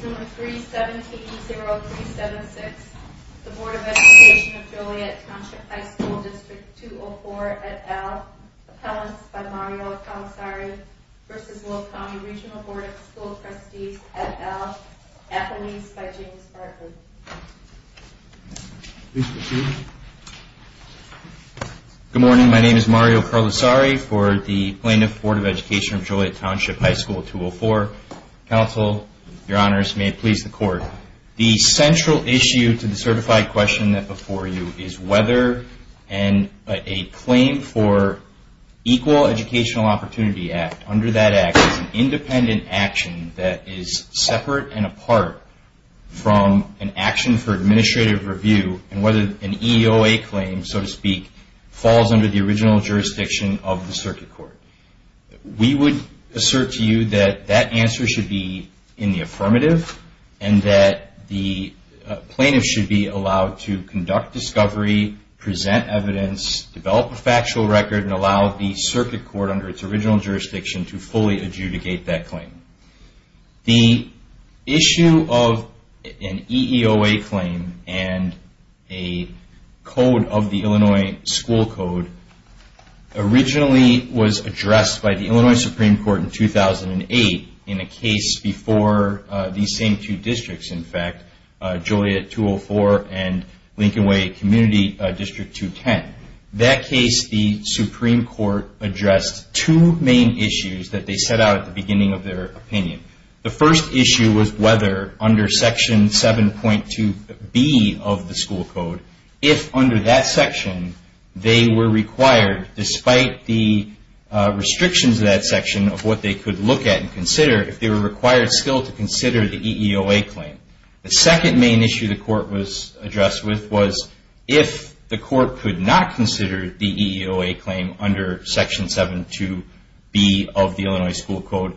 Board of Education of Joliet Township High School District 204, et al. Appellants by Mario Carlisari v. Will County Regional Board of School Trustees, et al. Appellees by James Bartlett. Good morning. My name is Mario Carlisari for the Plaintiff Board of Education of Joliet Township High School 204. Counsel, Your Honors, may it please the Court. The central issue to the certified question that before you is whether a claim for Equal Educational Opportunity Act, under that Act, is an independent action that is separate and apart from an action for administrative review and whether an EOA claim, so to speak, falls under the original jurisdiction of the Circuit Court. We would assert to you that that answer should be in the affirmative and that the plaintiff should be allowed to conduct discovery, present evidence, develop a factual record, and allow the Circuit Court, under its original jurisdiction, to fully adjudicate that claim. The issue of an EOA claim and a code of the Illinois school code originally was addressed by the Illinois Supreme Court in 2008 in a case before these same two districts, in fact, Joliet 204 and Lincoln Way Community District 210. In that case, the Supreme Court addressed two main issues that they set out at the beginning of their opinion. The first issue was whether under Section 7.2B of the school code, if under that section, they were required, despite the restrictions of that section of what they could look at and consider, if they were required still to consider the EOA claim. The second main issue the court was addressed with was if the court could not consider the EOA claim under Section 7.2B of the Illinois school code,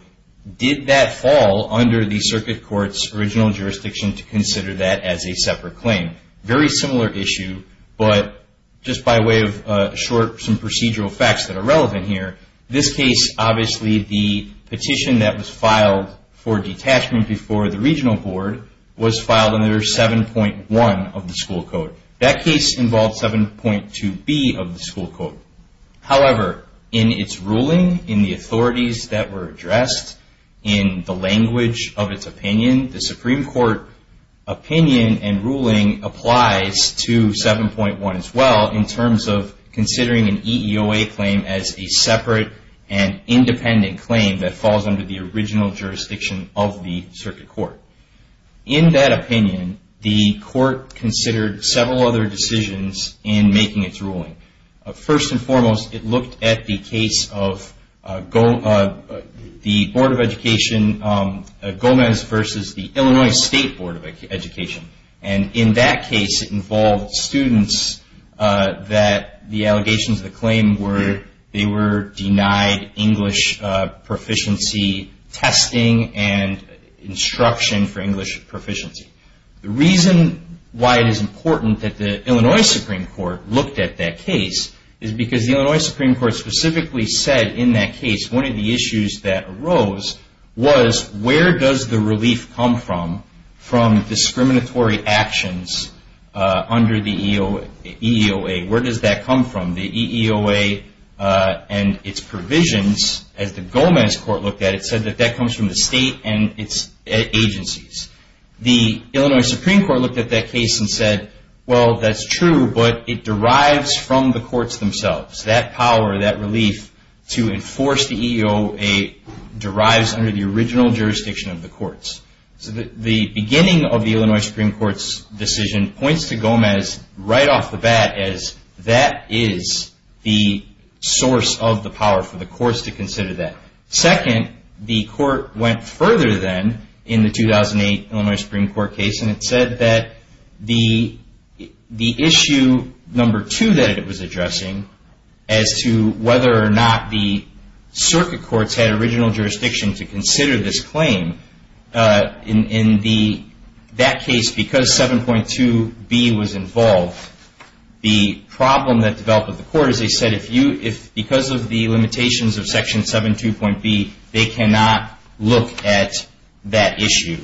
did that fall under the Circuit Court's original jurisdiction to consider that as a separate claim? Very similar issue, but just by way of some procedural facts that are relevant here. This case, obviously, the petition that was filed for detachment before the regional board was filed under 7.1 of the school code. That case involved 7.2B of the school code. However, in its ruling, in the authorities that were addressed, in the language of its opinion, the Supreme Court opinion and ruling applies to 7.1 as well in terms of considering an EOA claim as a separate and independent claim that falls under the original jurisdiction of the Circuit Court. In that opinion, the court considered several other decisions in making its ruling. First and foremost, it looked at the case of the Board of Education Gomez versus the Illinois State Board of Education. In that case, it involved students that the allegations of the claim were they were denied English proficiency testing and instruction for English proficiency. The reason why it is important that the Illinois Supreme Court looked at that case is because the Illinois Supreme Court specifically said in that case one of the issues that arose was where does the relief come from from discriminatory actions under the EOA? The Illinois Supreme Court looked at that case and said, well, that's true, but it derives from the courts themselves. That power, that relief to enforce the EOA derives under the original jurisdiction of the courts. The beginning of the Illinois Supreme Court's decision points to Gomez right off the bat as that is the source of the power for the courts to consider that. Second, the court went further then in the 2008 Illinois Supreme Court case and it said that the issue number two that it was addressing as to whether or not the Circuit Courts had original jurisdiction to consider this claim. In that case, because 7.2b was involved, the problem that developed with the court is they said because of the limitations of section 7.2.b, they cannot look at that issue.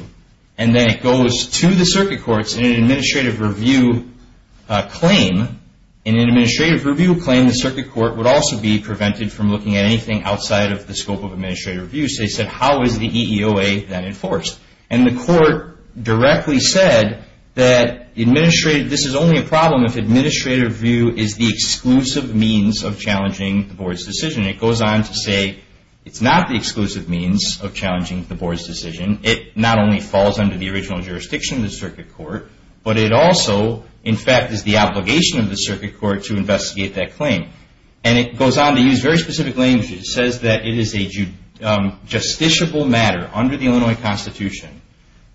Then it goes to the Circuit Courts in an administrative review claim. In an administrative review claim, the Circuit Court would also be prevented from looking at anything outside of the scope of administrative review. They said how is the EOA then enforced? The court directly said that this is only a problem if administrative review is the exclusive means of challenging the board's decision. It goes on to say it's not the exclusive means of challenging the board's decision. It not only falls under the original jurisdiction of the Circuit Court, but it also, in fact, is the obligation of the Circuit Court to investigate that claim. It goes on to use very specific language. It says that it is a justiciable matter under the Illinois Constitution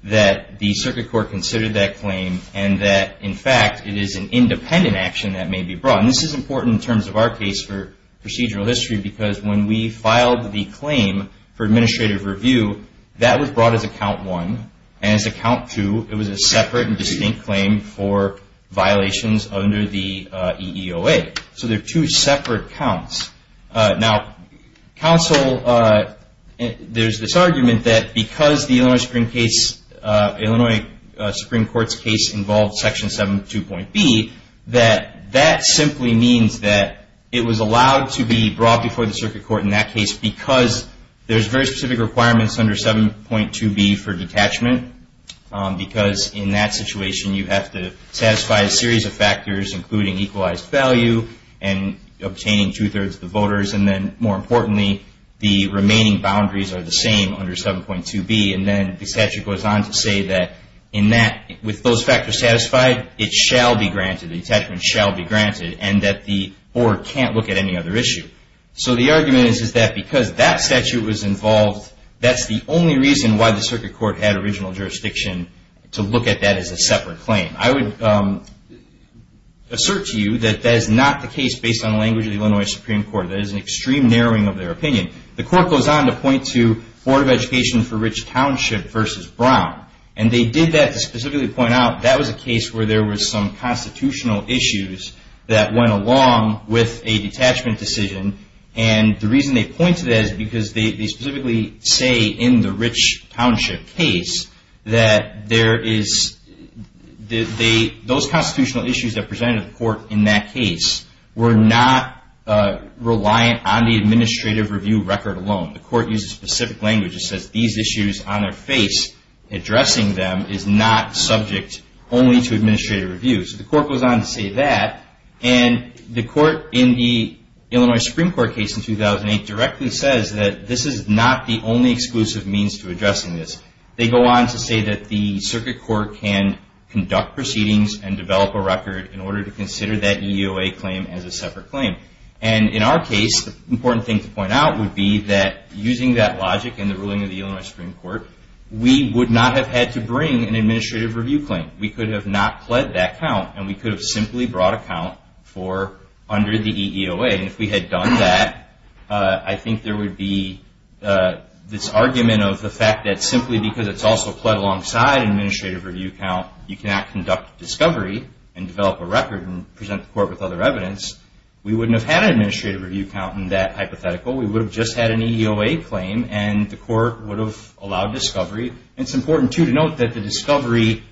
that the Circuit Court considered that claim and that, in fact, it is an independent action that may be brought. This is important in terms of our case for procedural history because when we filed the claim for administrative review, that was brought as a count one. As a count two, it was a separate and distinct claim for violations under the EOA. There are two separate counts. Now, counsel, there's this argument that because the Illinois Supreme Court's case involved Section 7.2.B, that that simply means that it was allowed to be brought before the Circuit Court in that case because there's very specific requirements under 7.2.B for detachment because in that situation, you have to satisfy a series of factors, including equalized value and obtaining two-thirds of the voters. Then, more importantly, the remaining boundaries are the same under 7.2.B. Then, the statute goes on to say that with those factors satisfied, it shall be granted. Detachment shall be granted and that the board can't look at any other issue. So the argument is that because that statute was involved, that's the only reason why the Circuit Court had original jurisdiction to look at that as a separate claim. I would assert to you that that is not the case based on language of the Illinois Supreme Court. That is an extreme narrowing of their opinion. The court goes on to point to Board of Education for Rich Township versus Brown. And they did that to specifically point out that was a case where there was some constitutional issues that went along with a detachment decision. And the reason they pointed to that is because they specifically say in the Rich Township case that those constitutional issues that presented to the court in that case were not reliant on the administrative review record alone. The court uses specific language that says these issues on their face, addressing them is not subject only to administrative review. So the court goes on to say that. And the court in the Illinois Supreme Court case in 2008 directly says that this is not the only exclusive means to addressing this. They go on to say that the Circuit Court can conduct proceedings and develop a record in order to consider that EUA claim as a separate claim. And in our case, the important thing to point out would be that using that logic and the ruling of the Illinois Supreme Court, we would not have had to bring an administrative review claim. We could have not pled that count and we could have simply brought a count for under the EUA. And if we had done that, I think there would be this argument of the fact that simply because it's also pled alongside an administrative review count, you cannot conduct discovery and develop a record and present the court with other evidence. We wouldn't have had an administrative review count in that hypothetical. We would have just had an EUA claim and the court would have allowed discovery. And it's important, too, to note that the discovery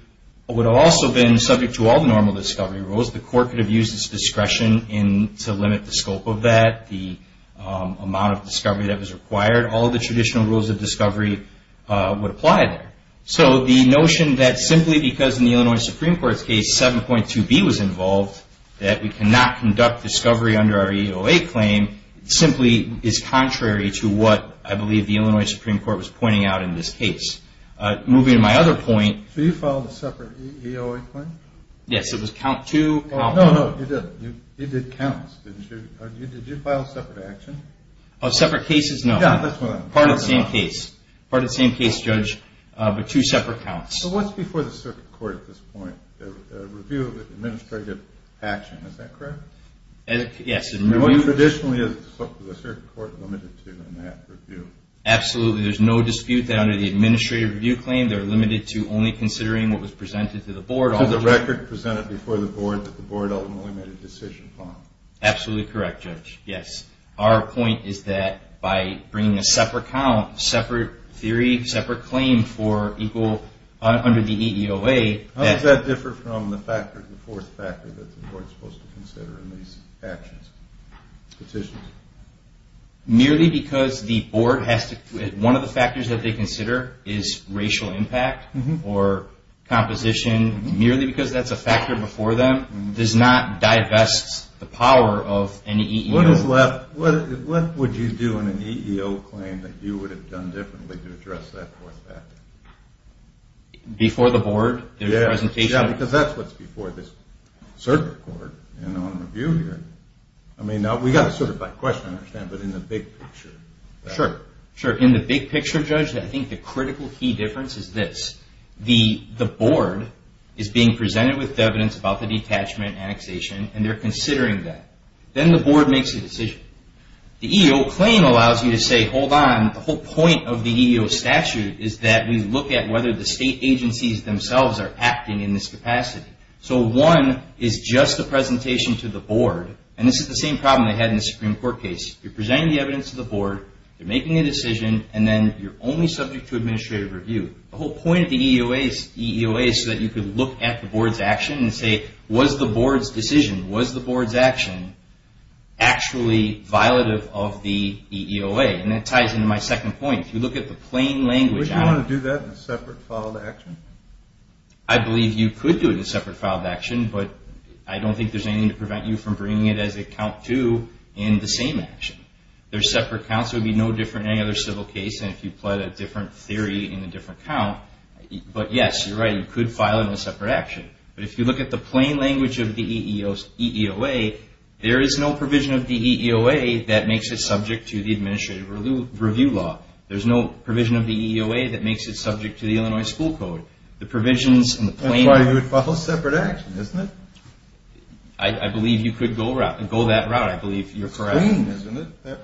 would have also been subject to all the normal discovery rules. The court could have used its discretion to limit the scope of that, the amount of discovery that was required. All the traditional rules of discovery would apply there. So the notion that simply because in the Illinois Supreme Court's case 7.2b was involved, that we cannot conduct discovery under our EUA claim, simply is contrary to what I believe the Illinois Supreme Court was pointing out in this case. Moving to my other point. So you filed a separate EUA claim? Yes, it was count two. No, no, you did. You did counts, didn't you? Did you file separate action? Separate cases, no. Yeah, that's what I'm talking about. Part of the same case. But two separate counts. So what's before the circuit court at this point? A review of the administrative action. Is that correct? Yes. Traditionally, is the circuit court limited to that review? Absolutely. There's no dispute that under the administrative review claim, they're limited to only considering what was presented to the board. So the record presented before the board that the board ultimately made a decision upon. Absolutely correct, Judge. Yes. Our point is that by bringing a separate count, separate theory, separate claim for equal under the EEOA. How does that differ from the fourth factor that the board is supposed to consider in these actions, petitions? Merely because the board has to, one of the factors that they consider is racial impact or composition. Merely because that's a factor before them does not divest the power of any EEOA. What would you do in an EEOA claim that you would have done differently to address that fourth factor? Before the board? Yes. Because that's what's before this circuit court and on review here. I mean, now we got it sort of by question, I understand, but in the big picture. Sure. Sure. In the big picture, Judge, I think the critical key difference is this. The board is being presented with evidence about the detachment annexation and they're considering that. Then the board makes a decision. The EEOA claim allows you to say, hold on, the whole point of the EEOA statute is that we look at whether the state agencies themselves are acting in this capacity. So one is just a presentation to the board, and this is the same problem they had in the Supreme Court case. You're presenting the evidence to the board, you're making a decision, and then you're only subject to administrative review. The whole point of the EEOA is so that you could look at the board's action and say, was the board's decision, was the board's action, actually violative of the EEOA? And that ties into my second point. If you look at the plain language on it. Would you want to do that in a separate filed action? I believe you could do it in a separate filed action, but I don't think there's anything to prevent you from bringing it as a count to in the same action. There's separate counts. It would be no different in any other civil case than if you pled a different theory in a different count. But yes, you're right, you could file it in a separate action. But if you look at the plain language of the EEOA, there is no provision of the EEOA that makes it subject to the administrative review law. There's no provision of the EEOA that makes it subject to the Illinois School Code. The provisions in the plain language. That's why you would file a separate action, isn't it? I believe you could go that route. I believe you're correct. It's plain, isn't it?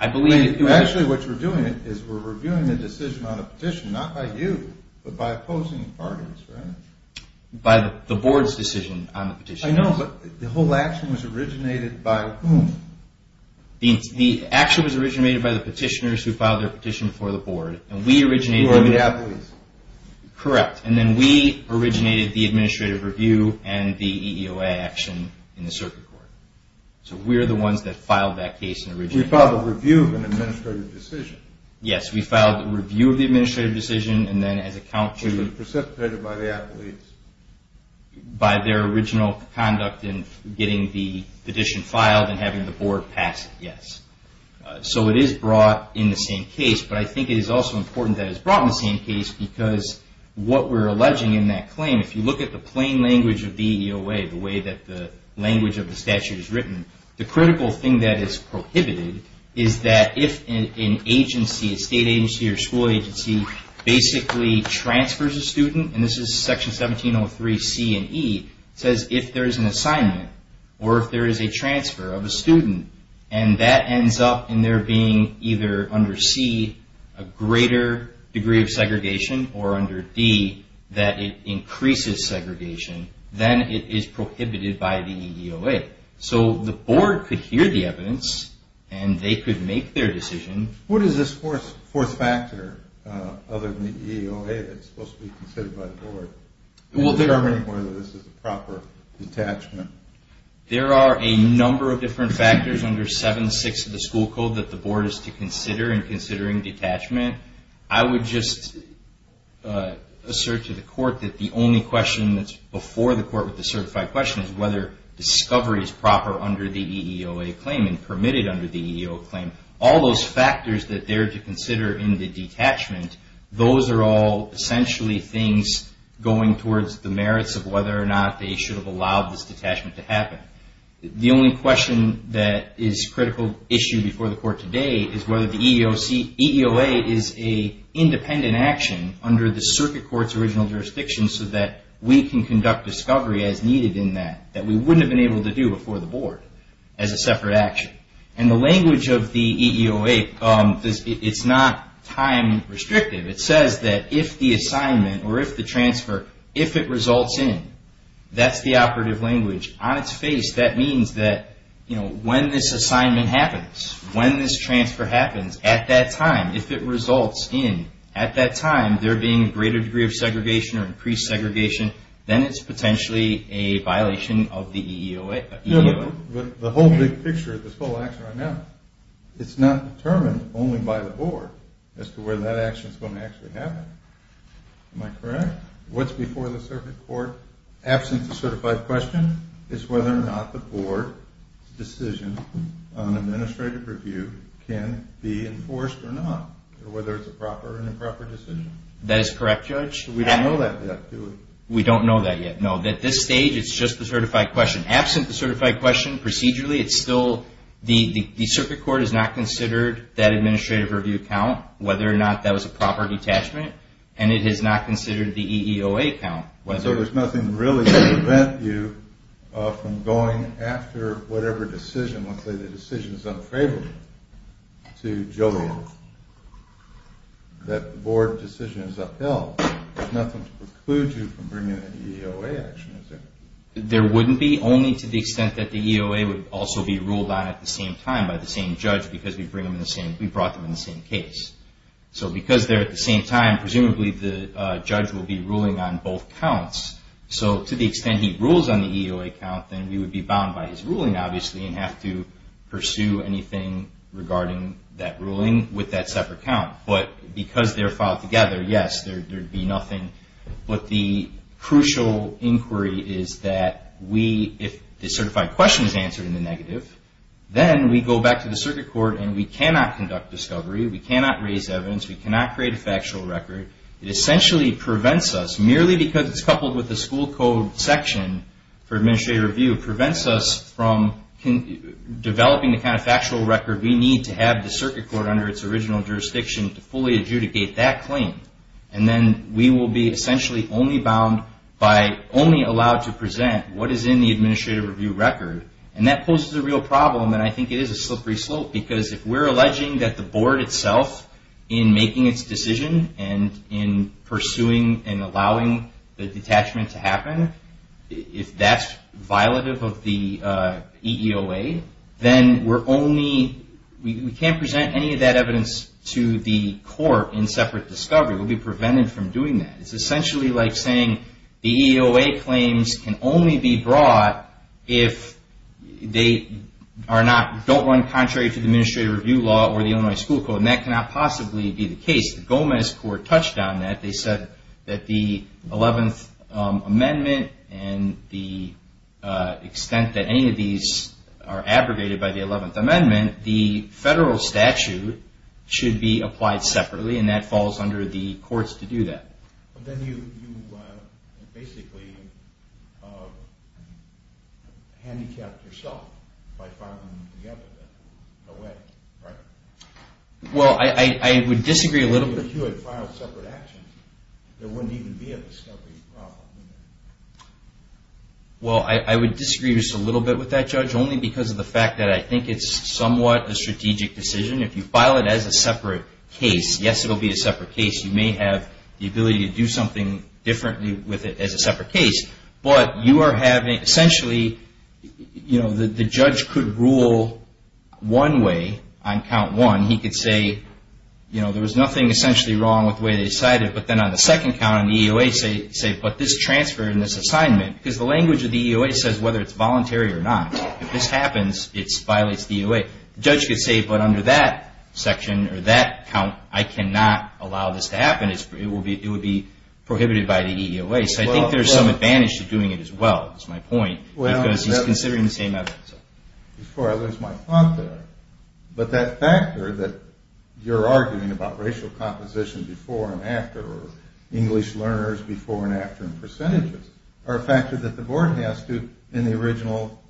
Actually, what you're doing is we're reviewing the decision on a petition, not by you, but by opposing parties, right? By the board's decision on the petition. I know, but the whole action was originated by whom? The action was originated by the petitioners who filed their petition before the board. And we originated it. Who are the athletes? So we're the ones that filed that case. You filed a review of an administrative decision. Yes, we filed a review of the administrative decision, and then as a count to... Which was precipitated by the athletes. By their original conduct in getting the petition filed and having the board pass it, yes. So it is brought in the same case, but I think it is also important that it's brought in the same case because what we're alleging in that claim, if you look at the plain language of the EEOA, the way that the language of the statute is written, the critical thing that is prohibited is that if an agency, a state agency or school agency, basically transfers a student, and this is Section 1703C and E, says if there is an assignment or if there is a transfer of a student, and that ends up in there being either under C, a greater degree of segregation, or under D, that it increases segregation, then it is prohibited by the EEOA. So the board could hear the evidence, and they could make their decision. What is this fourth factor, other than the EEOA, that's supposed to be considered by the board, in determining whether this is a proper detachment? There are a number of different factors under 7.6 of the school code that the board is to consider in considering detachment. I would just assert to the court that the only question that's before the court with the certified question is whether discovery is proper under the EEOA claim and permitted under the EEOA claim. All those factors that they're to consider in the detachment, those are all essentially things going towards the merits of whether or not they should have allowed this detachment to happen. The only question that is a critical issue before the court today is whether the EEOA is an independent action under the circuit court's original jurisdiction so that we can conduct discovery as needed in that, that we wouldn't have been able to do before the board as a separate action. And the language of the EEOA, it's not time restrictive. It says that if the assignment or if the transfer, if it results in, that's the operative language, on its face, that means that when this assignment happens, when this transfer happens, at that time, if it results in, at that time, there being a greater degree of segregation or increased segregation, then it's potentially a violation of the EEOA. The whole big picture, this whole action right now, it's not determined only by the board as to whether that action is going to actually happen. Am I correct? What's before the circuit court, absent the certified question, is whether or not the board decision on administrative review can be enforced or not, or whether it's a proper or improper decision. That is correct, Judge. We don't know that yet, do we? We don't know that yet, no. At this stage, it's just the certified question. Absent the certified question, procedurally, it's still, the circuit court has not considered that administrative review count, whether or not that was a proper detachment, and it has not considered the EEOA count. So there's nothing really to prevent you from going after whatever decision, let's say the decision is unfavorable to Joliet, that the board decision is upheld. There's nothing to preclude you from bringing an EEOA action, is there? There wouldn't be, only to the extent that the EEOA would also be ruled on at the same time by the same judge because we brought them in the same case. So because they're at the same time, presumably the judge will be ruling on both counts. So to the extent he rules on the EEOA count, then we would be bound by his ruling, obviously, and have to pursue anything regarding that ruling with that separate count. But because they're filed together, yes, there'd be nothing. But the crucial inquiry is that we, if the certified question is answered in the negative, then we go back to the circuit court and we cannot conduct discovery, we cannot raise evidence, we cannot create a factual record. It essentially prevents us, merely because it's coupled with the school code section for administrative review, prevents us from developing the kind of factual record we need to have the circuit court under its original jurisdiction to fully adjudicate that claim. And then we will be essentially only bound by only allowed to present what is in the administrative review record. And that poses a real problem, and I think it is a slippery slope, because if we're alleging that the board itself in making its decision and in pursuing and allowing the detachment to happen, if that's violative of the EEOA, then we're only, we can't present any of that evidence to the court in separate discovery. We'll be prevented from doing that. It's essentially like saying the EEOA claims can only be brought if they are not, don't run contrary to the administrative review law or the Illinois school code, and that cannot possibly be the case. The Gomez Court touched on that. They said that the 11th Amendment and the extent that any of these are abrogated by the 11th Amendment, the federal statute should be applied separately, and that falls under the courts to do that. Then you basically handicapped yourself by filing them together. No way, right? Well, I would disagree a little bit. If you had filed separate actions, there wouldn't even be a discovery problem. Well, I would disagree just a little bit with that, Judge, only because of the fact that I think it's somewhat a strategic decision. If you file it as a separate case, yes, it will be a separate case. You may have the ability to do something differently with it as a separate case, but you are having essentially, you know, the judge could rule one way on count one. He could say, you know, there was nothing essentially wrong with the way they decided, but then on the second count on the EEOA say, but this transfer in this assignment, because the language of the EEOA says whether it's voluntary or not. If this happens, it violates the EEOA. The judge could say, but under that section or that count, I cannot allow this to happen. It would be prohibited by the EEOA. So I think there's some advantage to doing it as well, is my point, because he's considering the same evidence. Before I lose my thought there, but that factor that you're arguing about racial composition before and after or English learners before and after and percentages are a factor that the board has to, in the original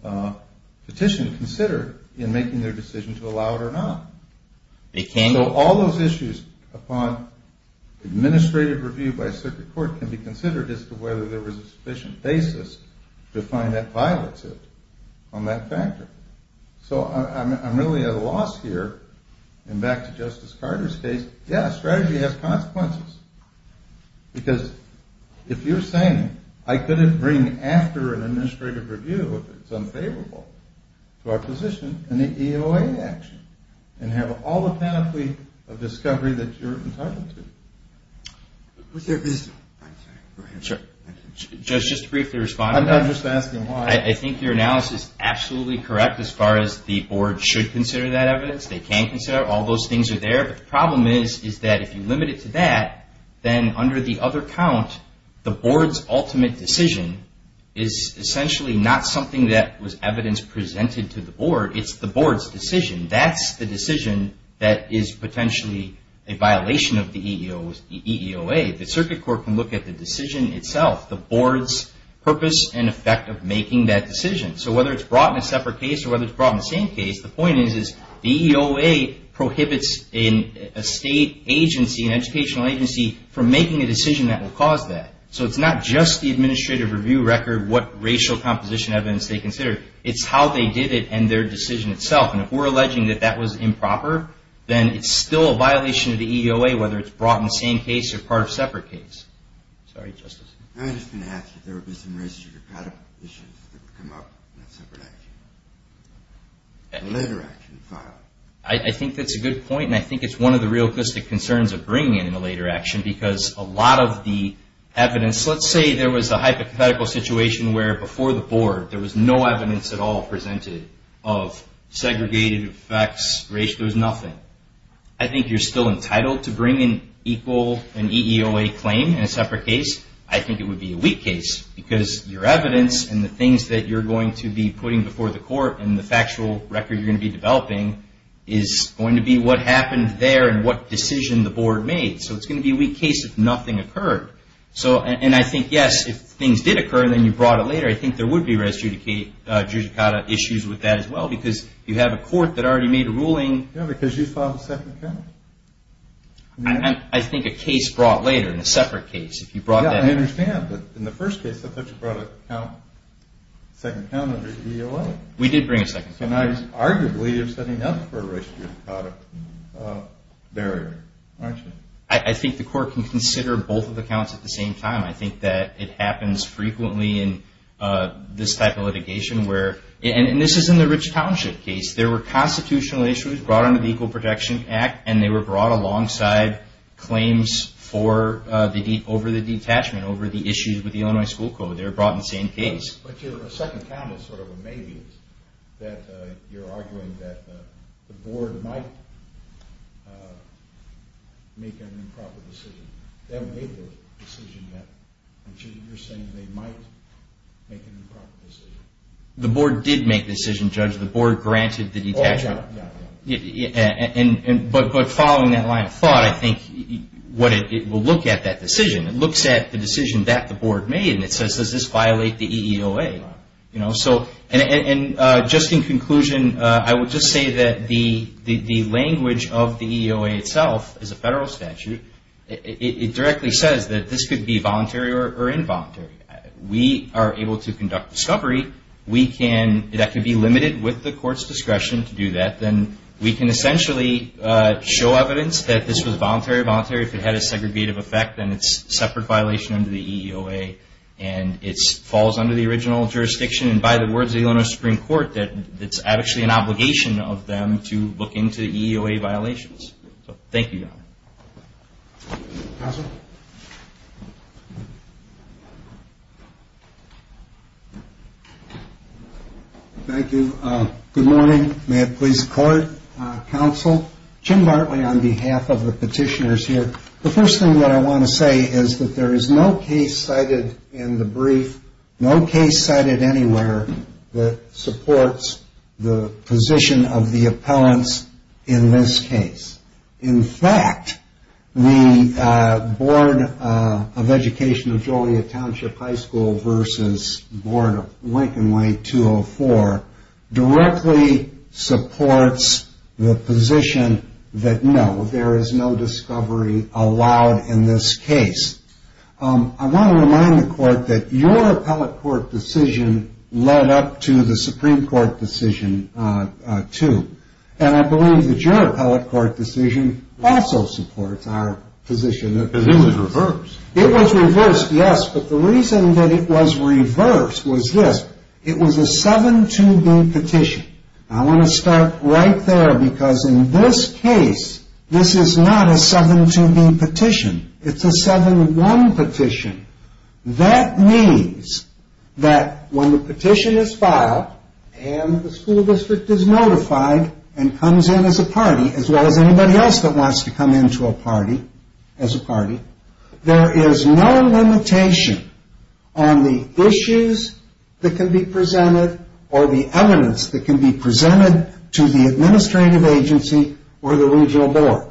petition, consider in making their decision to allow it or not. So all those issues upon administrative review by a circuit court can be considered as to whether there was a sufficient basis to find that violates it on that factor. So I'm really at a loss here. And back to Justice Carter's case, yes, strategy has consequences. Because if you're saying, I couldn't bring after an administrative review if it's unfavorable to our position in the EEOA action and have all the panoply of discovery that you're entitled to. Just briefly respond. I'm not just asking why. I think your analysis is absolutely correct as far as the board should consider that evidence. They can consider it. All those things are there. But the problem is, is that if you limit it to that, then under the other count, the board's ultimate decision is essentially not something that was evidence presented to the board. It's the board's decision. That's the decision that is potentially a violation of the EEOA. The circuit court can look at the decision itself, the board's purpose and effect of making that decision. So whether it's brought in a separate case or whether it's brought in the same case, the point is, is the EEOA prohibits a state agency, an educational agency, from making a decision that will cause that. So it's not just the administrative review record, what racial composition evidence they consider. It's how they did it and their decision itself. And if we're alleging that that was improper, then it's still a violation of the EEOA, whether it's brought in the same case or part of a separate case. Sorry, Justice. I was just going to ask if there would be some racism issues that would come up in a separate action, a later action filed. I think that's a good point, and I think it's one of the real quickest concerns of bringing in a later action because a lot of the evidence, let's say there was a hypothetical situation where, before the board, there was no evidence at all presented of segregated effects, racial, there was nothing. I think you're still entitled to bring in an EEOA claim in a separate case. I think it would be a weak case because your evidence and the things that you're going to be putting before the court and the factual record you're going to be developing is going to be what happened there and what decision the board made. So it's going to be a weak case if nothing occurred. And I think, yes, if things did occur and then you brought it later, I think there would be res judicata issues with that as well because you have a court that already made a ruling. Yeah, because you filed a separate case. I think a case brought later in a separate case. Yeah, I understand, but in the first case, I thought you brought a second count under EEOA. We did bring a second count. So now, arguably, you're setting up for a res judicata barrier, aren't you? I think the court can consider both of the counts at the same time. I think that it happens frequently in this type of litigation where, and this is in the Rich Township case, there were constitutional issues brought under the Equal Protection Act and they were brought alongside claims over the detachment, over the issues with the Illinois School Code. They were brought in the same case. But your second count is sort of a maybe that you're arguing that the board might make an improper decision. They haven't made the decision yet, but you're saying they might make an improper decision. The board did make the decision, Judge. The board granted the detachment. But following that line of thought, I think it will look at that decision. It looks at the decision that the board made and it says, does this violate the EEOA? Just in conclusion, I would just say that the language of the EEOA itself is a federal statute. It directly says that this could be voluntary or involuntary. We are able to conduct discovery. That could be limited with the court's discretion to do that. Then we can essentially show evidence that this was voluntary or involuntary. If it had a segregative effect, then it's a separate violation under the EEOA and it falls under the original jurisdiction. And by the words of the Illinois Supreme Court, it's actually an obligation of them to look into EEOA violations. Thank you, Your Honor. Counsel? Thank you. Good morning. May it please the court, counsel. Jim Bartley on behalf of the petitioners here. The first thing that I want to say is that there is no case cited in the brief, no case cited anywhere that supports the position of the appellants in this case. In fact, the Board of Education of Joliet Township High School versus Board of Lincoln Way 204 directly supports the position that no, there is no discovery allowed in this case. I want to remind the court that your appellate court decision led up to the Supreme Court decision, too. And I believe that your appellate court decision also supports our position. Because it was reversed. It was reversed, yes. But the reason that it was reversed was this. It was a 7-2b petition. I want to start right there because in this case, this is not a 7-2b petition. It's a 7-1 petition. That means that when the petition is filed and the school district is notified and comes in as a party, as well as anybody else that wants to come in as a party, there is no limitation on the issues that can be presented or the evidence that can be presented to the administrative agency or the regional board.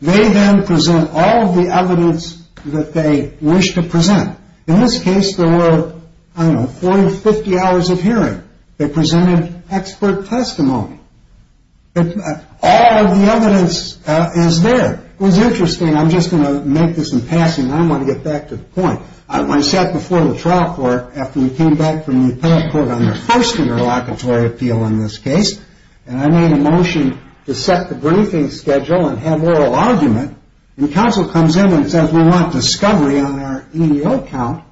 They then present all of the evidence that they wish to present. In this case, there were, I don't know, 40 or 50 hours of hearing. They presented expert testimony. All of the evidence is there. It was interesting. I'm just going to make this in passing. I want to get back to the point. I sat before the trial court after we came back from the appellate court on their first interlocutory appeal in this case. I made a motion to set the briefing schedule and have oral argument. The counsel comes in and says we want discovery on our EEO count.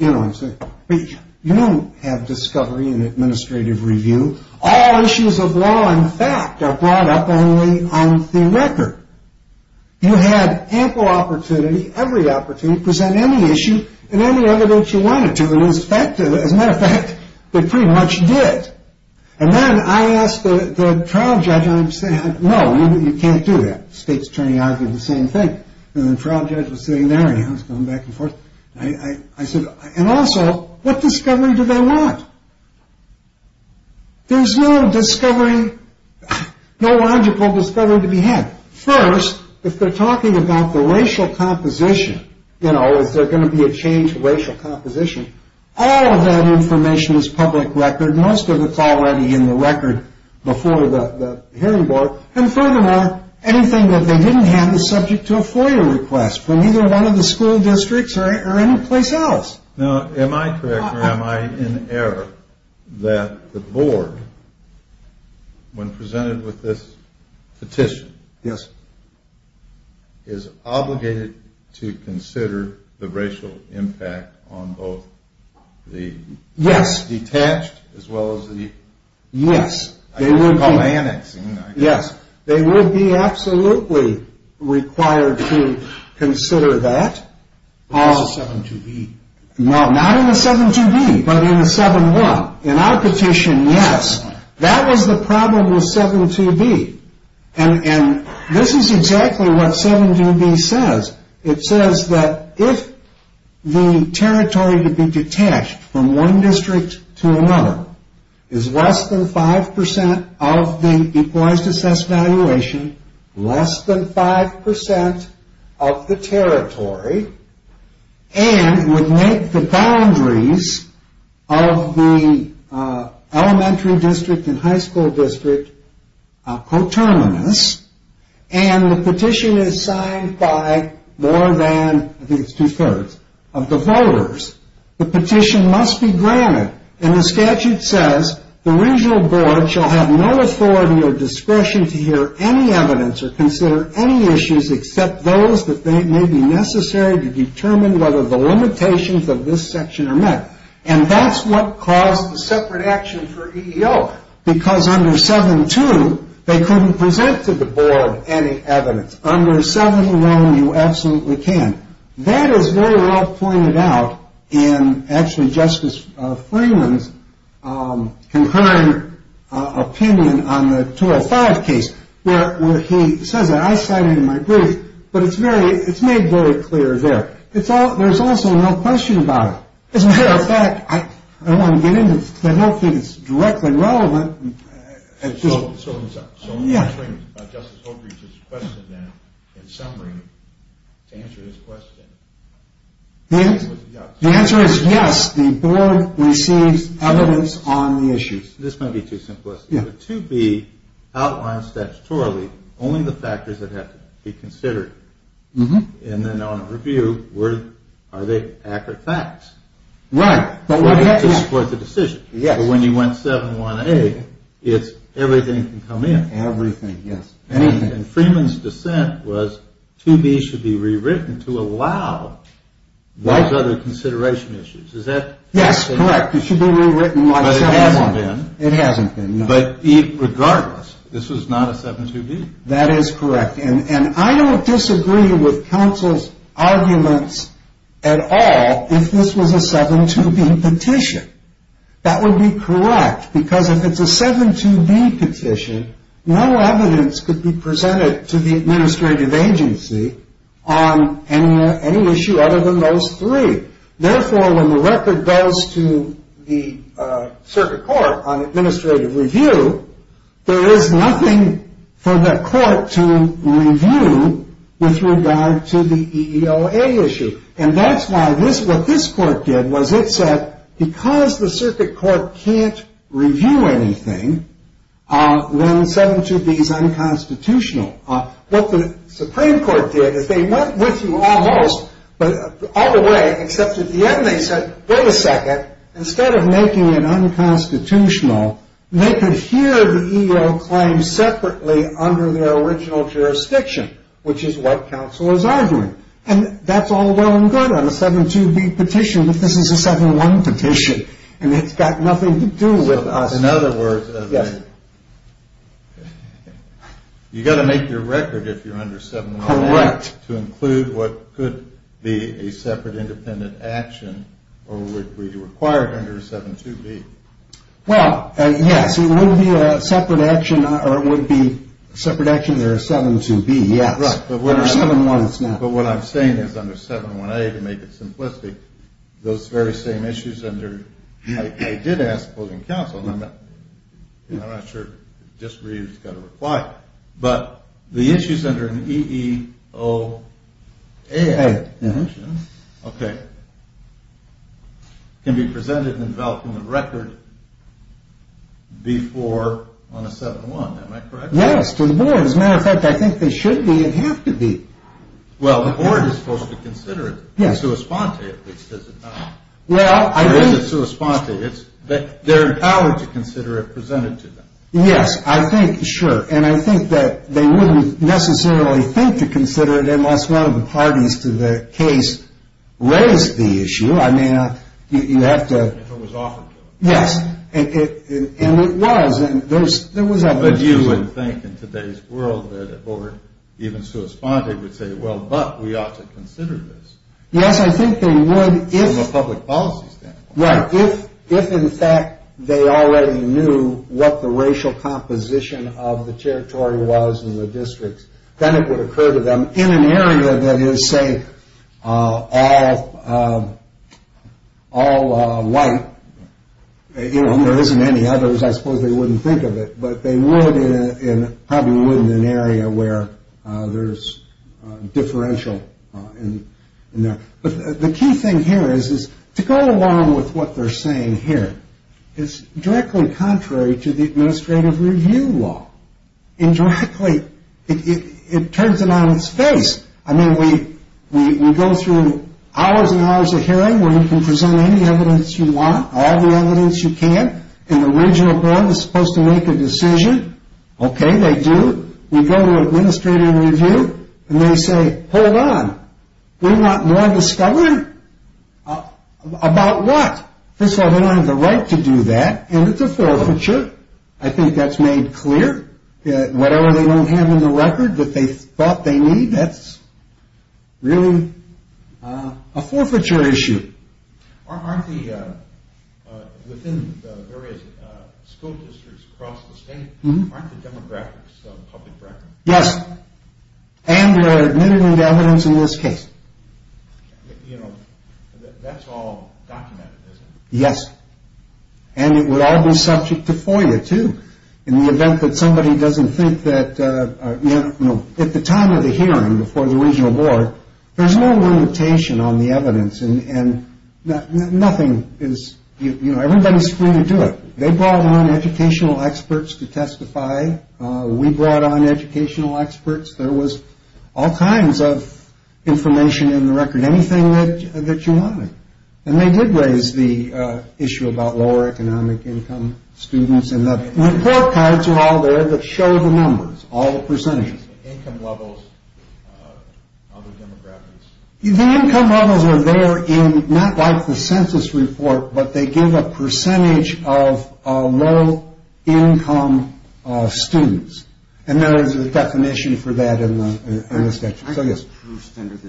You don't have discovery in administrative review. All issues of law and fact are brought up only on the record. You had ample opportunity, every opportunity to present any issue and any evidence you wanted to. As a matter of fact, they pretty much did. And then I asked the trial judge, no, you can't do that. State's attorney argued the same thing. And the trial judge was sitting there and he was going back and forth. I said, and also, what discovery do they want? There's no discovery, no logical discovery to be had. First, if they're talking about the racial composition, you know, is there going to be a change to racial composition, all of that information is public record. Most of it's already in the record before the hearing board. And furthermore, anything that they didn't have is subject to a FOIA request from either one of the school districts or any place else. Now, am I correct or am I in error that the board, when presented with this petition, is obligated to consider the racial impact on both the detached as well as the annexing? Yes, they would be absolutely required to consider that. Not in the 7-2B, but in the 7-1. In our petition, yes. That was the problem with 7-2B. And this is exactly what 7-2B says. It says that if the territory to be detached from one district to another is less than 5% of the Equalized Assessed Valuation, less than 5% of the territory, and would make the boundaries of the elementary district and high school district coterminous, and the petition is signed by more than, I think it's two-thirds, of the voters, the petition must be granted. And the statute says the regional board shall have no authority or discretion to hear any evidence or consider any issues except those that may be necessary to determine whether the limitations of this section are met. And that's what caused the separate action for EEO, because under 7-2 they couldn't present to the board any evidence. Under 7-1, you absolutely can. That is very well pointed out in actually Justice Freeman's concurrent opinion on the 205 case, where he says that. I cite it in my brief, but it's made very clear there. There's also no question about it. As a matter of fact, I don't want to get into it because I don't think it's directly relevant. So, Justice Oakridge's question then, in summary, to answer his question, the answer is yes. The board receives evidence on the issues. This might be too simplistic. 2B outlines statutorily only the factors that have to be considered. And then on review, are they accurate facts? Right. To support the decision. Yes. When you went 7-1A, it's everything can come in. Everything, yes. Anything. And Freeman's dissent was 2B should be rewritten to allow those other consideration issues. Yes, correct. It should be rewritten like 7-1. It hasn't been. But regardless, this was not a 7-2B. That is correct. And I don't disagree with counsel's arguments at all if this was a 7-2B petition. That would be correct because if it's a 7-2B petition, no evidence could be presented to the administrative agency on any issue other than those three. Therefore, when the record goes to the circuit court on administrative review, there is nothing for the court to review with regard to the EEOA issue. And that's why what this court did was it said because the circuit court can't review anything, then 7-2B is unconstitutional. What the Supreme Court did is they went with you almost all the way, except at the end they said, wait a second, instead of making it unconstitutional, they could hear the EEOA claim separately under their original jurisdiction, which is what counsel is arguing. And that's all well and good on a 7-2B petition, but this is a 7-1 petition and it's got nothing to do with us. In other words, you've got to make your record if you're under 7-1 to include what could be a separate independent action or would be required under a 7-2B. Well, yes, it would be a separate action or it would be a separate action under a 7-2B, yes. Under 7-1 it's not. But what I'm saying is under 7-1A, to make it simplistic, those very same issues under, I did ask closing counsel, and I'm not sure, just read it, it's got to require it. But the issues under an EEOA can be presented and developed in the record before on a 7-1. Am I correct? Yes, to the point. As a matter of fact, I think they should be and have to be. Well, the board is supposed to consider it. Yes. In sua sponte, at least, is it not? Well, I think. It is in sua sponte. They're empowered to consider it presented to them. Yes, I think, sure. And I think that they wouldn't necessarily think to consider it unless one of the parties to the case raised the issue. I mean, you have to. If it was offered to them. Yes. And it was. But you would think in today's world that a board, even sua sponte, would say, well, but we ought to consider this. Yes, I think they would. From a public policy standpoint. Right. If, in fact, they already knew what the racial composition of the territory was in the districts, then it would occur to them in an area that is, say, all white, there isn't any others, I suppose they wouldn't think of it, but they probably would in an area where there's differential in there. But the key thing here is to go along with what they're saying here. It's directly contrary to the administrative review law. Indirectly, it turns it on its face. I mean, we go through hours and hours of hearing where you can present any evidence you want, all the evidence you can, and the regional board is supposed to make a decision. Okay, they do. We go to an administrative review, and they say, hold on, we want more discovery? About what? First of all, they don't have the right to do that, and it's a forfeiture. I think that's made clear. Whatever they don't have in the record that they thought they need, that's really a forfeiture issue. Aren't the, within the various school districts across the state, aren't the demographics on public record? Yes. And there are limited evidence in this case. You know, that's all documented, isn't it? Yes. And it would all be subject to FOIA, too, in the event that somebody doesn't think that, you know, at the time of the hearing before the regional board, there's no limitation on the evidence, and nothing is, you know, everybody's free to do it. They brought on educational experts to testify. We brought on educational experts. There was all kinds of information in the record, anything that you wanted. And they did raise the issue about lower economic income students, and the report cards are all there that show the numbers, all the percentages. Income levels of the demographics. The income levels are there in, not like the census report, but they give a percentage of low income students. And there is a definition for that in the statute. I have proofs under the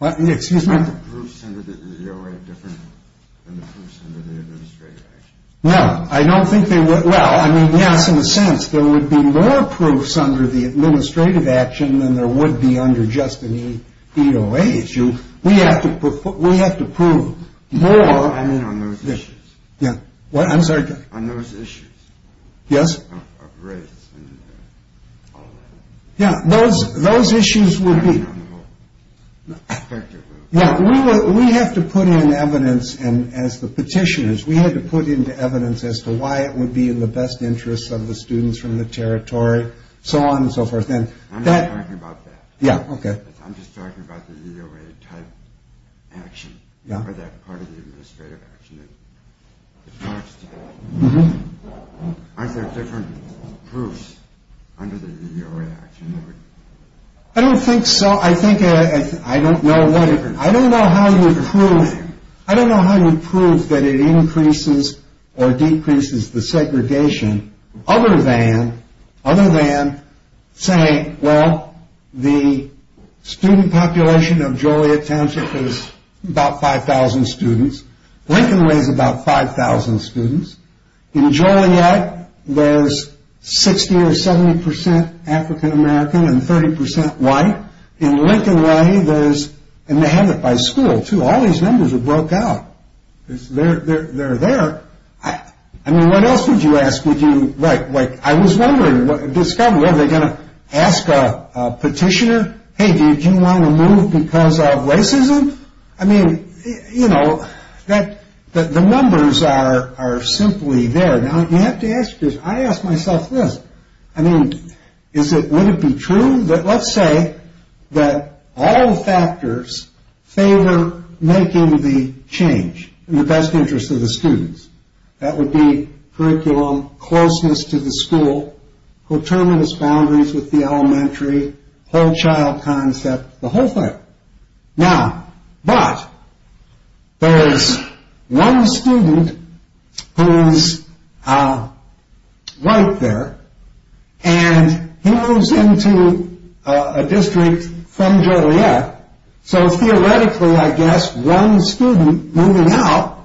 EOA. Excuse me? I have proofs under the EOA different than the proofs under the administrative action. Well, I don't think they would. Well, I mean, yes, in a sense, there would be more proofs under the administrative action than there would be under just an EOA issue. We have to prove more. I mean on those issues. Yeah. I'm sorry? On those issues. Yes. Of race and all that. Yeah, those issues would be. We have to put in evidence, and as the petitioners, we had to put into evidence as to why it would be in the best interest of the students from the territory, so on and so forth. I'm not talking about that. Yeah, okay. I'm just talking about the EOA type action, or that part of the administrative action. Mm-hmm. Aren't there different proofs under the EOA action? I don't think so. I think I don't know how to prove that it increases or decreases the segregation, other than saying, well, the student population of Joliet Township is about 5,000 students. Lincoln Way is about 5,000 students. In Joliet, there's 60 or 70 percent African American and 30 percent white. In Lincoln Way, there's, and they have it by school, too. All these numbers are broke out. They're there. I mean, what else would you ask? Would you, like, I was wondering, discovering, are they going to ask a petitioner, hey, did you want to move because of racism? I mean, you know, the numbers are simply there. Now, you have to ask this. I ask myself this. I mean, is it, would it be true that let's say that all factors favor making the change in the best interest of the students. That would be curriculum, closeness to the school, determinist boundaries with the elementary, whole child concept, the whole thing. Now, but, there's one student who's white there, and he moves into a district from Joliet. So, theoretically, I guess, one student moving out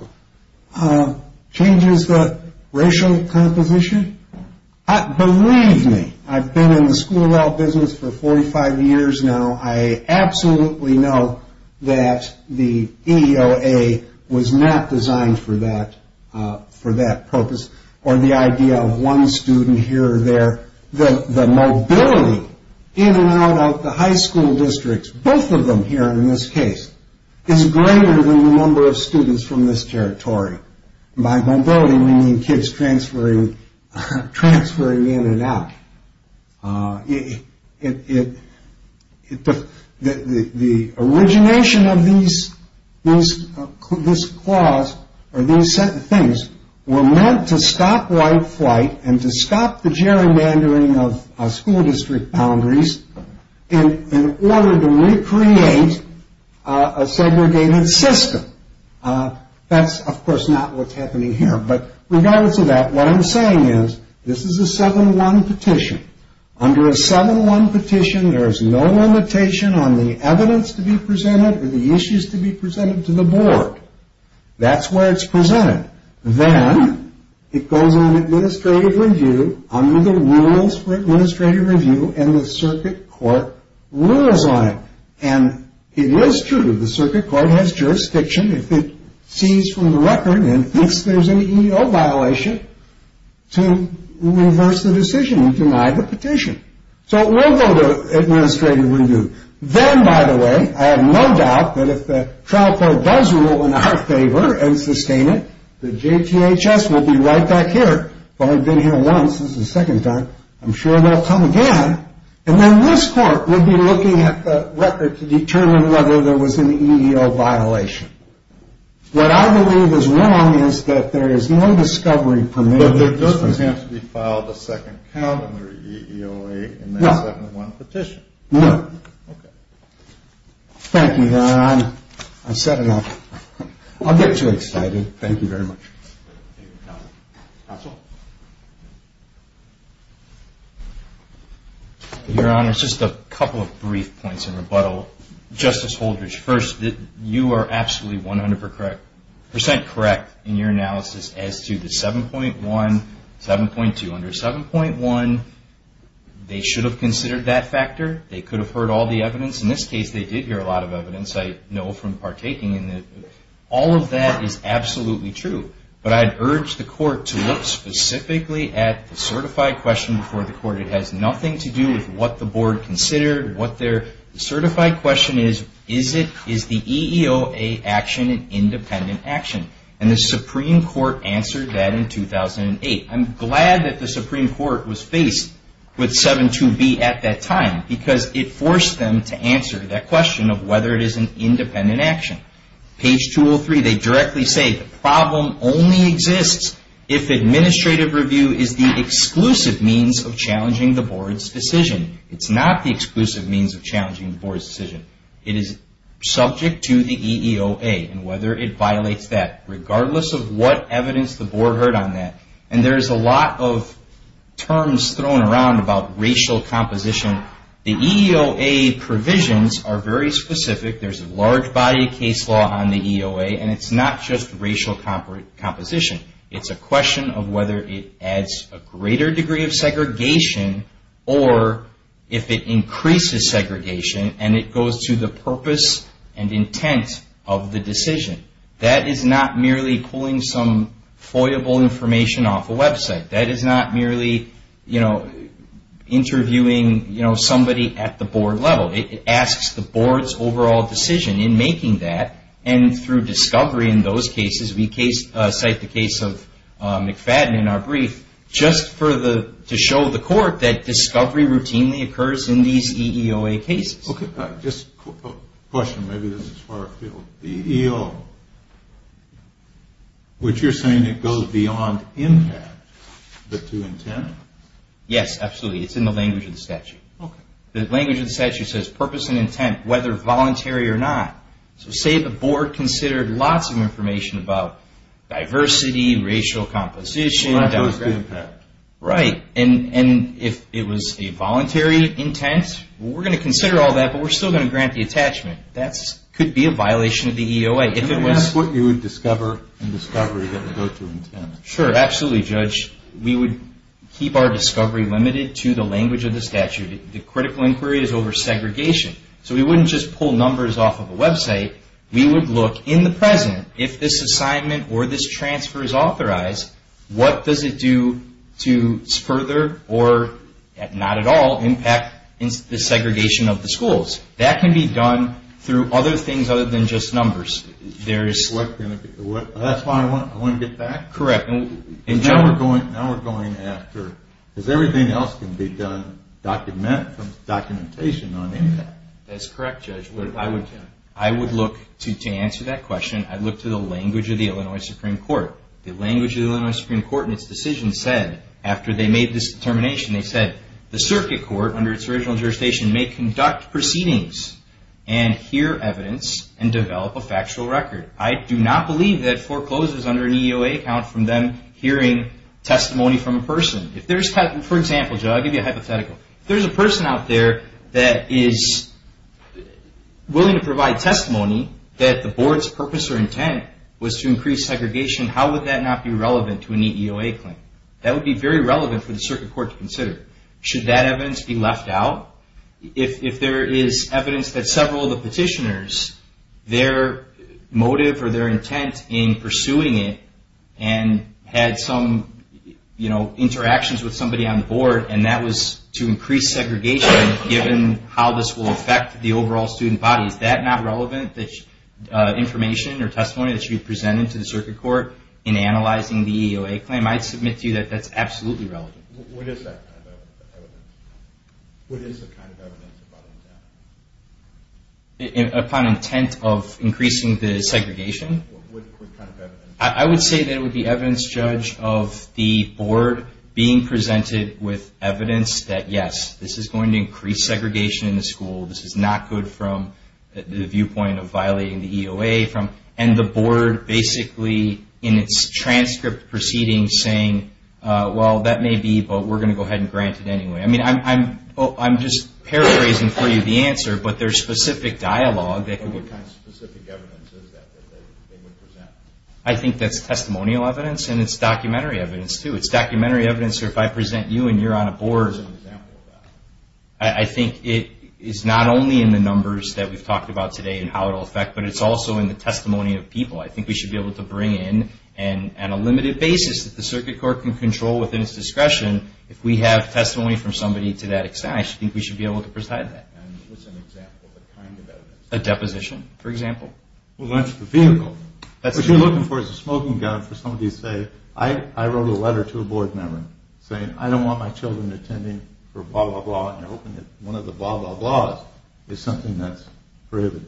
changes the racial composition. Believe me, I've been in the school of law business for 45 years now. I absolutely know that the EOA was not designed for that purpose, or the idea of one student here or there. The mobility in and out of the high school districts, both of them here in this case, is greater than the number of students from this territory. By mobility, we mean kids transferring in and out. The origination of this clause, or these things, were meant to stop white flight and to stop the gerrymandering of school district boundaries in order to recreate a segregated system. That's, of course, not what's happening here. But, regardless of that, what I'm saying is, this is a 7-1 petition. Under a 7-1 petition, there is no limitation on the evidence to be presented or the issues to be presented to the board. That's where it's presented. Then, it goes on administrative review under the rules for administrative review, and the circuit court rules on it. And it is true, the circuit court has jurisdiction. If it sees from the record and thinks there's an EEO violation, to reverse the decision and deny the petition. So, it will go to administrative review. Then, by the way, I have no doubt that if the trial court does rule in our favor and sustain it, the JTHS will be right back here. If I've been here once, this is the second time, I'm sure they'll come again. And then, this court would be looking at the record to determine whether there was an EEO violation. What I believe is wrong is that there is no discovery permitted. But, there doesn't have to be filed a second count under EEOA in that 7-1 petition. No. Okay. Thank you, Don. I've said enough. I'll get too excited. Thank you very much. Counsel? Your Honor, just a couple of brief points in rebuttal. Justice Holdridge, first, you are absolutely 100% correct in your analysis as to the 7.1, 7.2. Under 7.1, they should have considered that factor. They could have heard all the evidence. In this case, they did hear a lot of evidence. I know from partaking in it, all of that is absolutely true. But, I'd urge the court to look specifically at the certified question before the court. It has nothing to do with what the board considered. The certified question is, is the EEOA action an independent action? And, the Supreme Court answered that in 2008. I'm glad that the Supreme Court was faced with 7.2b at that time because it forced them to answer that question of whether it is an independent action. Page 203, they directly say, the problem only exists if administrative review is the exclusive means of challenging the board's decision. It's not the exclusive means of challenging the board's decision. It is subject to the EEOA and whether it violates that, regardless of what evidence the board heard on that. And, there's a lot of terms thrown around about racial composition. The EEOA provisions are very specific. There's a large body of case law on the EEOA and it's not just racial composition. It's a question of whether it adds a greater degree of segregation or if it increases segregation and it goes to the purpose and intent of the decision. That is not merely pulling some foyable information off a website. That is not merely interviewing somebody at the board level. It asks the board's overall decision in making that and through discovery in those cases, we cite the case of McFadden in our brief just to show the court that discovery routinely occurs in these EEOA cases. Okay. Just a question. Maybe this is far afield. The EEO, which you're saying it goes beyond impact but to intent? Yes, absolutely. It's in the language of the statute. Okay. The language of the statute says purpose and intent, whether voluntary or not. So, say the board considered lots of information about diversity, racial composition. That goes to impact. Right. And, if it was a voluntary intent, we're going to consider all that but we're still going to grant the attachment. That could be a violation of the EEOA. That's what you would discover in discovery that would go to intent. Sure, absolutely, Judge. We would keep our discovery limited to the language of the statute. The critical inquiry is over segregation. So, we wouldn't just pull numbers off of a website. We would look in the present, if this assignment or this transfer is authorized, what does it do to further or, not at all, impact the segregation of the schools? That can be done through other things other than just numbers. That's why I want to get back. Correct. Now we're going after, because everything else can be done from documentation on impact. That's correct, Judge. I would look, to answer that question, I'd look to the language of the Illinois Supreme Court. The language of the Illinois Supreme Court in its decision said, after they made this determination, they said, the circuit court, under its original jurisdiction, may conduct proceedings and hear evidence and develop a factual record. I do not believe that foreclosure is under an EEOA account from them hearing testimony from a person. For example, Judge, I'll give you a hypothetical. If there's a person out there that is willing to provide testimony that the board's purpose or intent was to increase segregation, how would that not be relevant to an EEOA claim? That would be very relevant for the circuit court to consider. Should that evidence be left out? If there is evidence that several of the petitioners, their motive or their intent in pursuing it, and had some interactions with somebody on the board, and that was to increase segregation, given how this will affect the overall student body, is that not relevant information or testimony that should be presented to the circuit court in analyzing the EEOA claim? I'd submit to you that that's absolutely relevant. What is that kind of evidence? What is the kind of evidence upon intent? Upon intent of increasing the segregation? What kind of evidence? I would say that it would be evidence, Judge, of the board being presented with evidence that, yes, this is going to increase segregation in the school. This is not good from the viewpoint of violating the EEOA. And the board, basically, in its transcript proceeding, saying, well, that may be, but we're going to go ahead and grant it anyway. I mean, I'm just paraphrasing for you the answer, but there's specific dialogue. What kind of specific evidence is that that they would present? I think that's testimonial evidence, and it's documentary evidence, too. It's documentary evidence, or if I present you and you're on a board. Give us an example of that. I think it is not only in the numbers that we've talked about today and how it will affect, but it's also in the testimony of people. I think we should be able to bring in, on a limited basis, that the circuit court can control within its discretion. If we have testimony from somebody to that extent, I think we should be able to preside that. What's an example of a kind of evidence? A deposition, for example. Well, that's the vehicle. What you're looking for is a smoking gun for somebody to say, I wrote a letter to a board member saying I don't want my children attending for blah, blah, blah, and you're hoping that one of the blah, blah, blahs is something that's prohibited.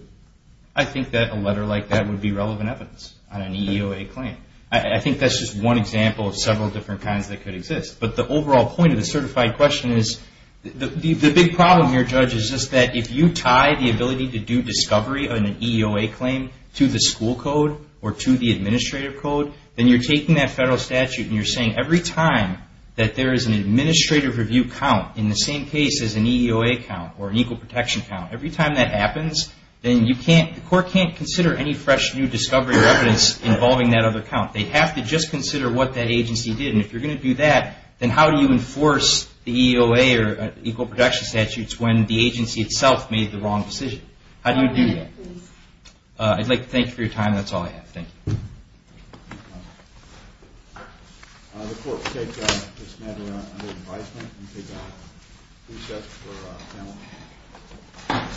I think that a letter like that would be relevant evidence on an EEOA claim. I think that's just one example of several different kinds that could exist. But the overall point of the certified question is the big problem here, Judge, is just that if you tie the ability to do discovery on an EEOA claim to the school code or to the administrative code, then you're taking that federal statute and you're saying every time that there is an administrative review count, in the same case as an EEOA count or an equal protection count, every time that happens, then the court can't consider any fresh new discovery or evidence involving that other count. They have to just consider what that agency did. And if you're going to do that, then how do you enforce the EEOA or equal protection statutes when the agency itself made the wrong decision? How do you do that? I'd like to thank you for your time. That's all I have. Thank you. Thank you. The court will take this matter under advisement and take a recess for panel.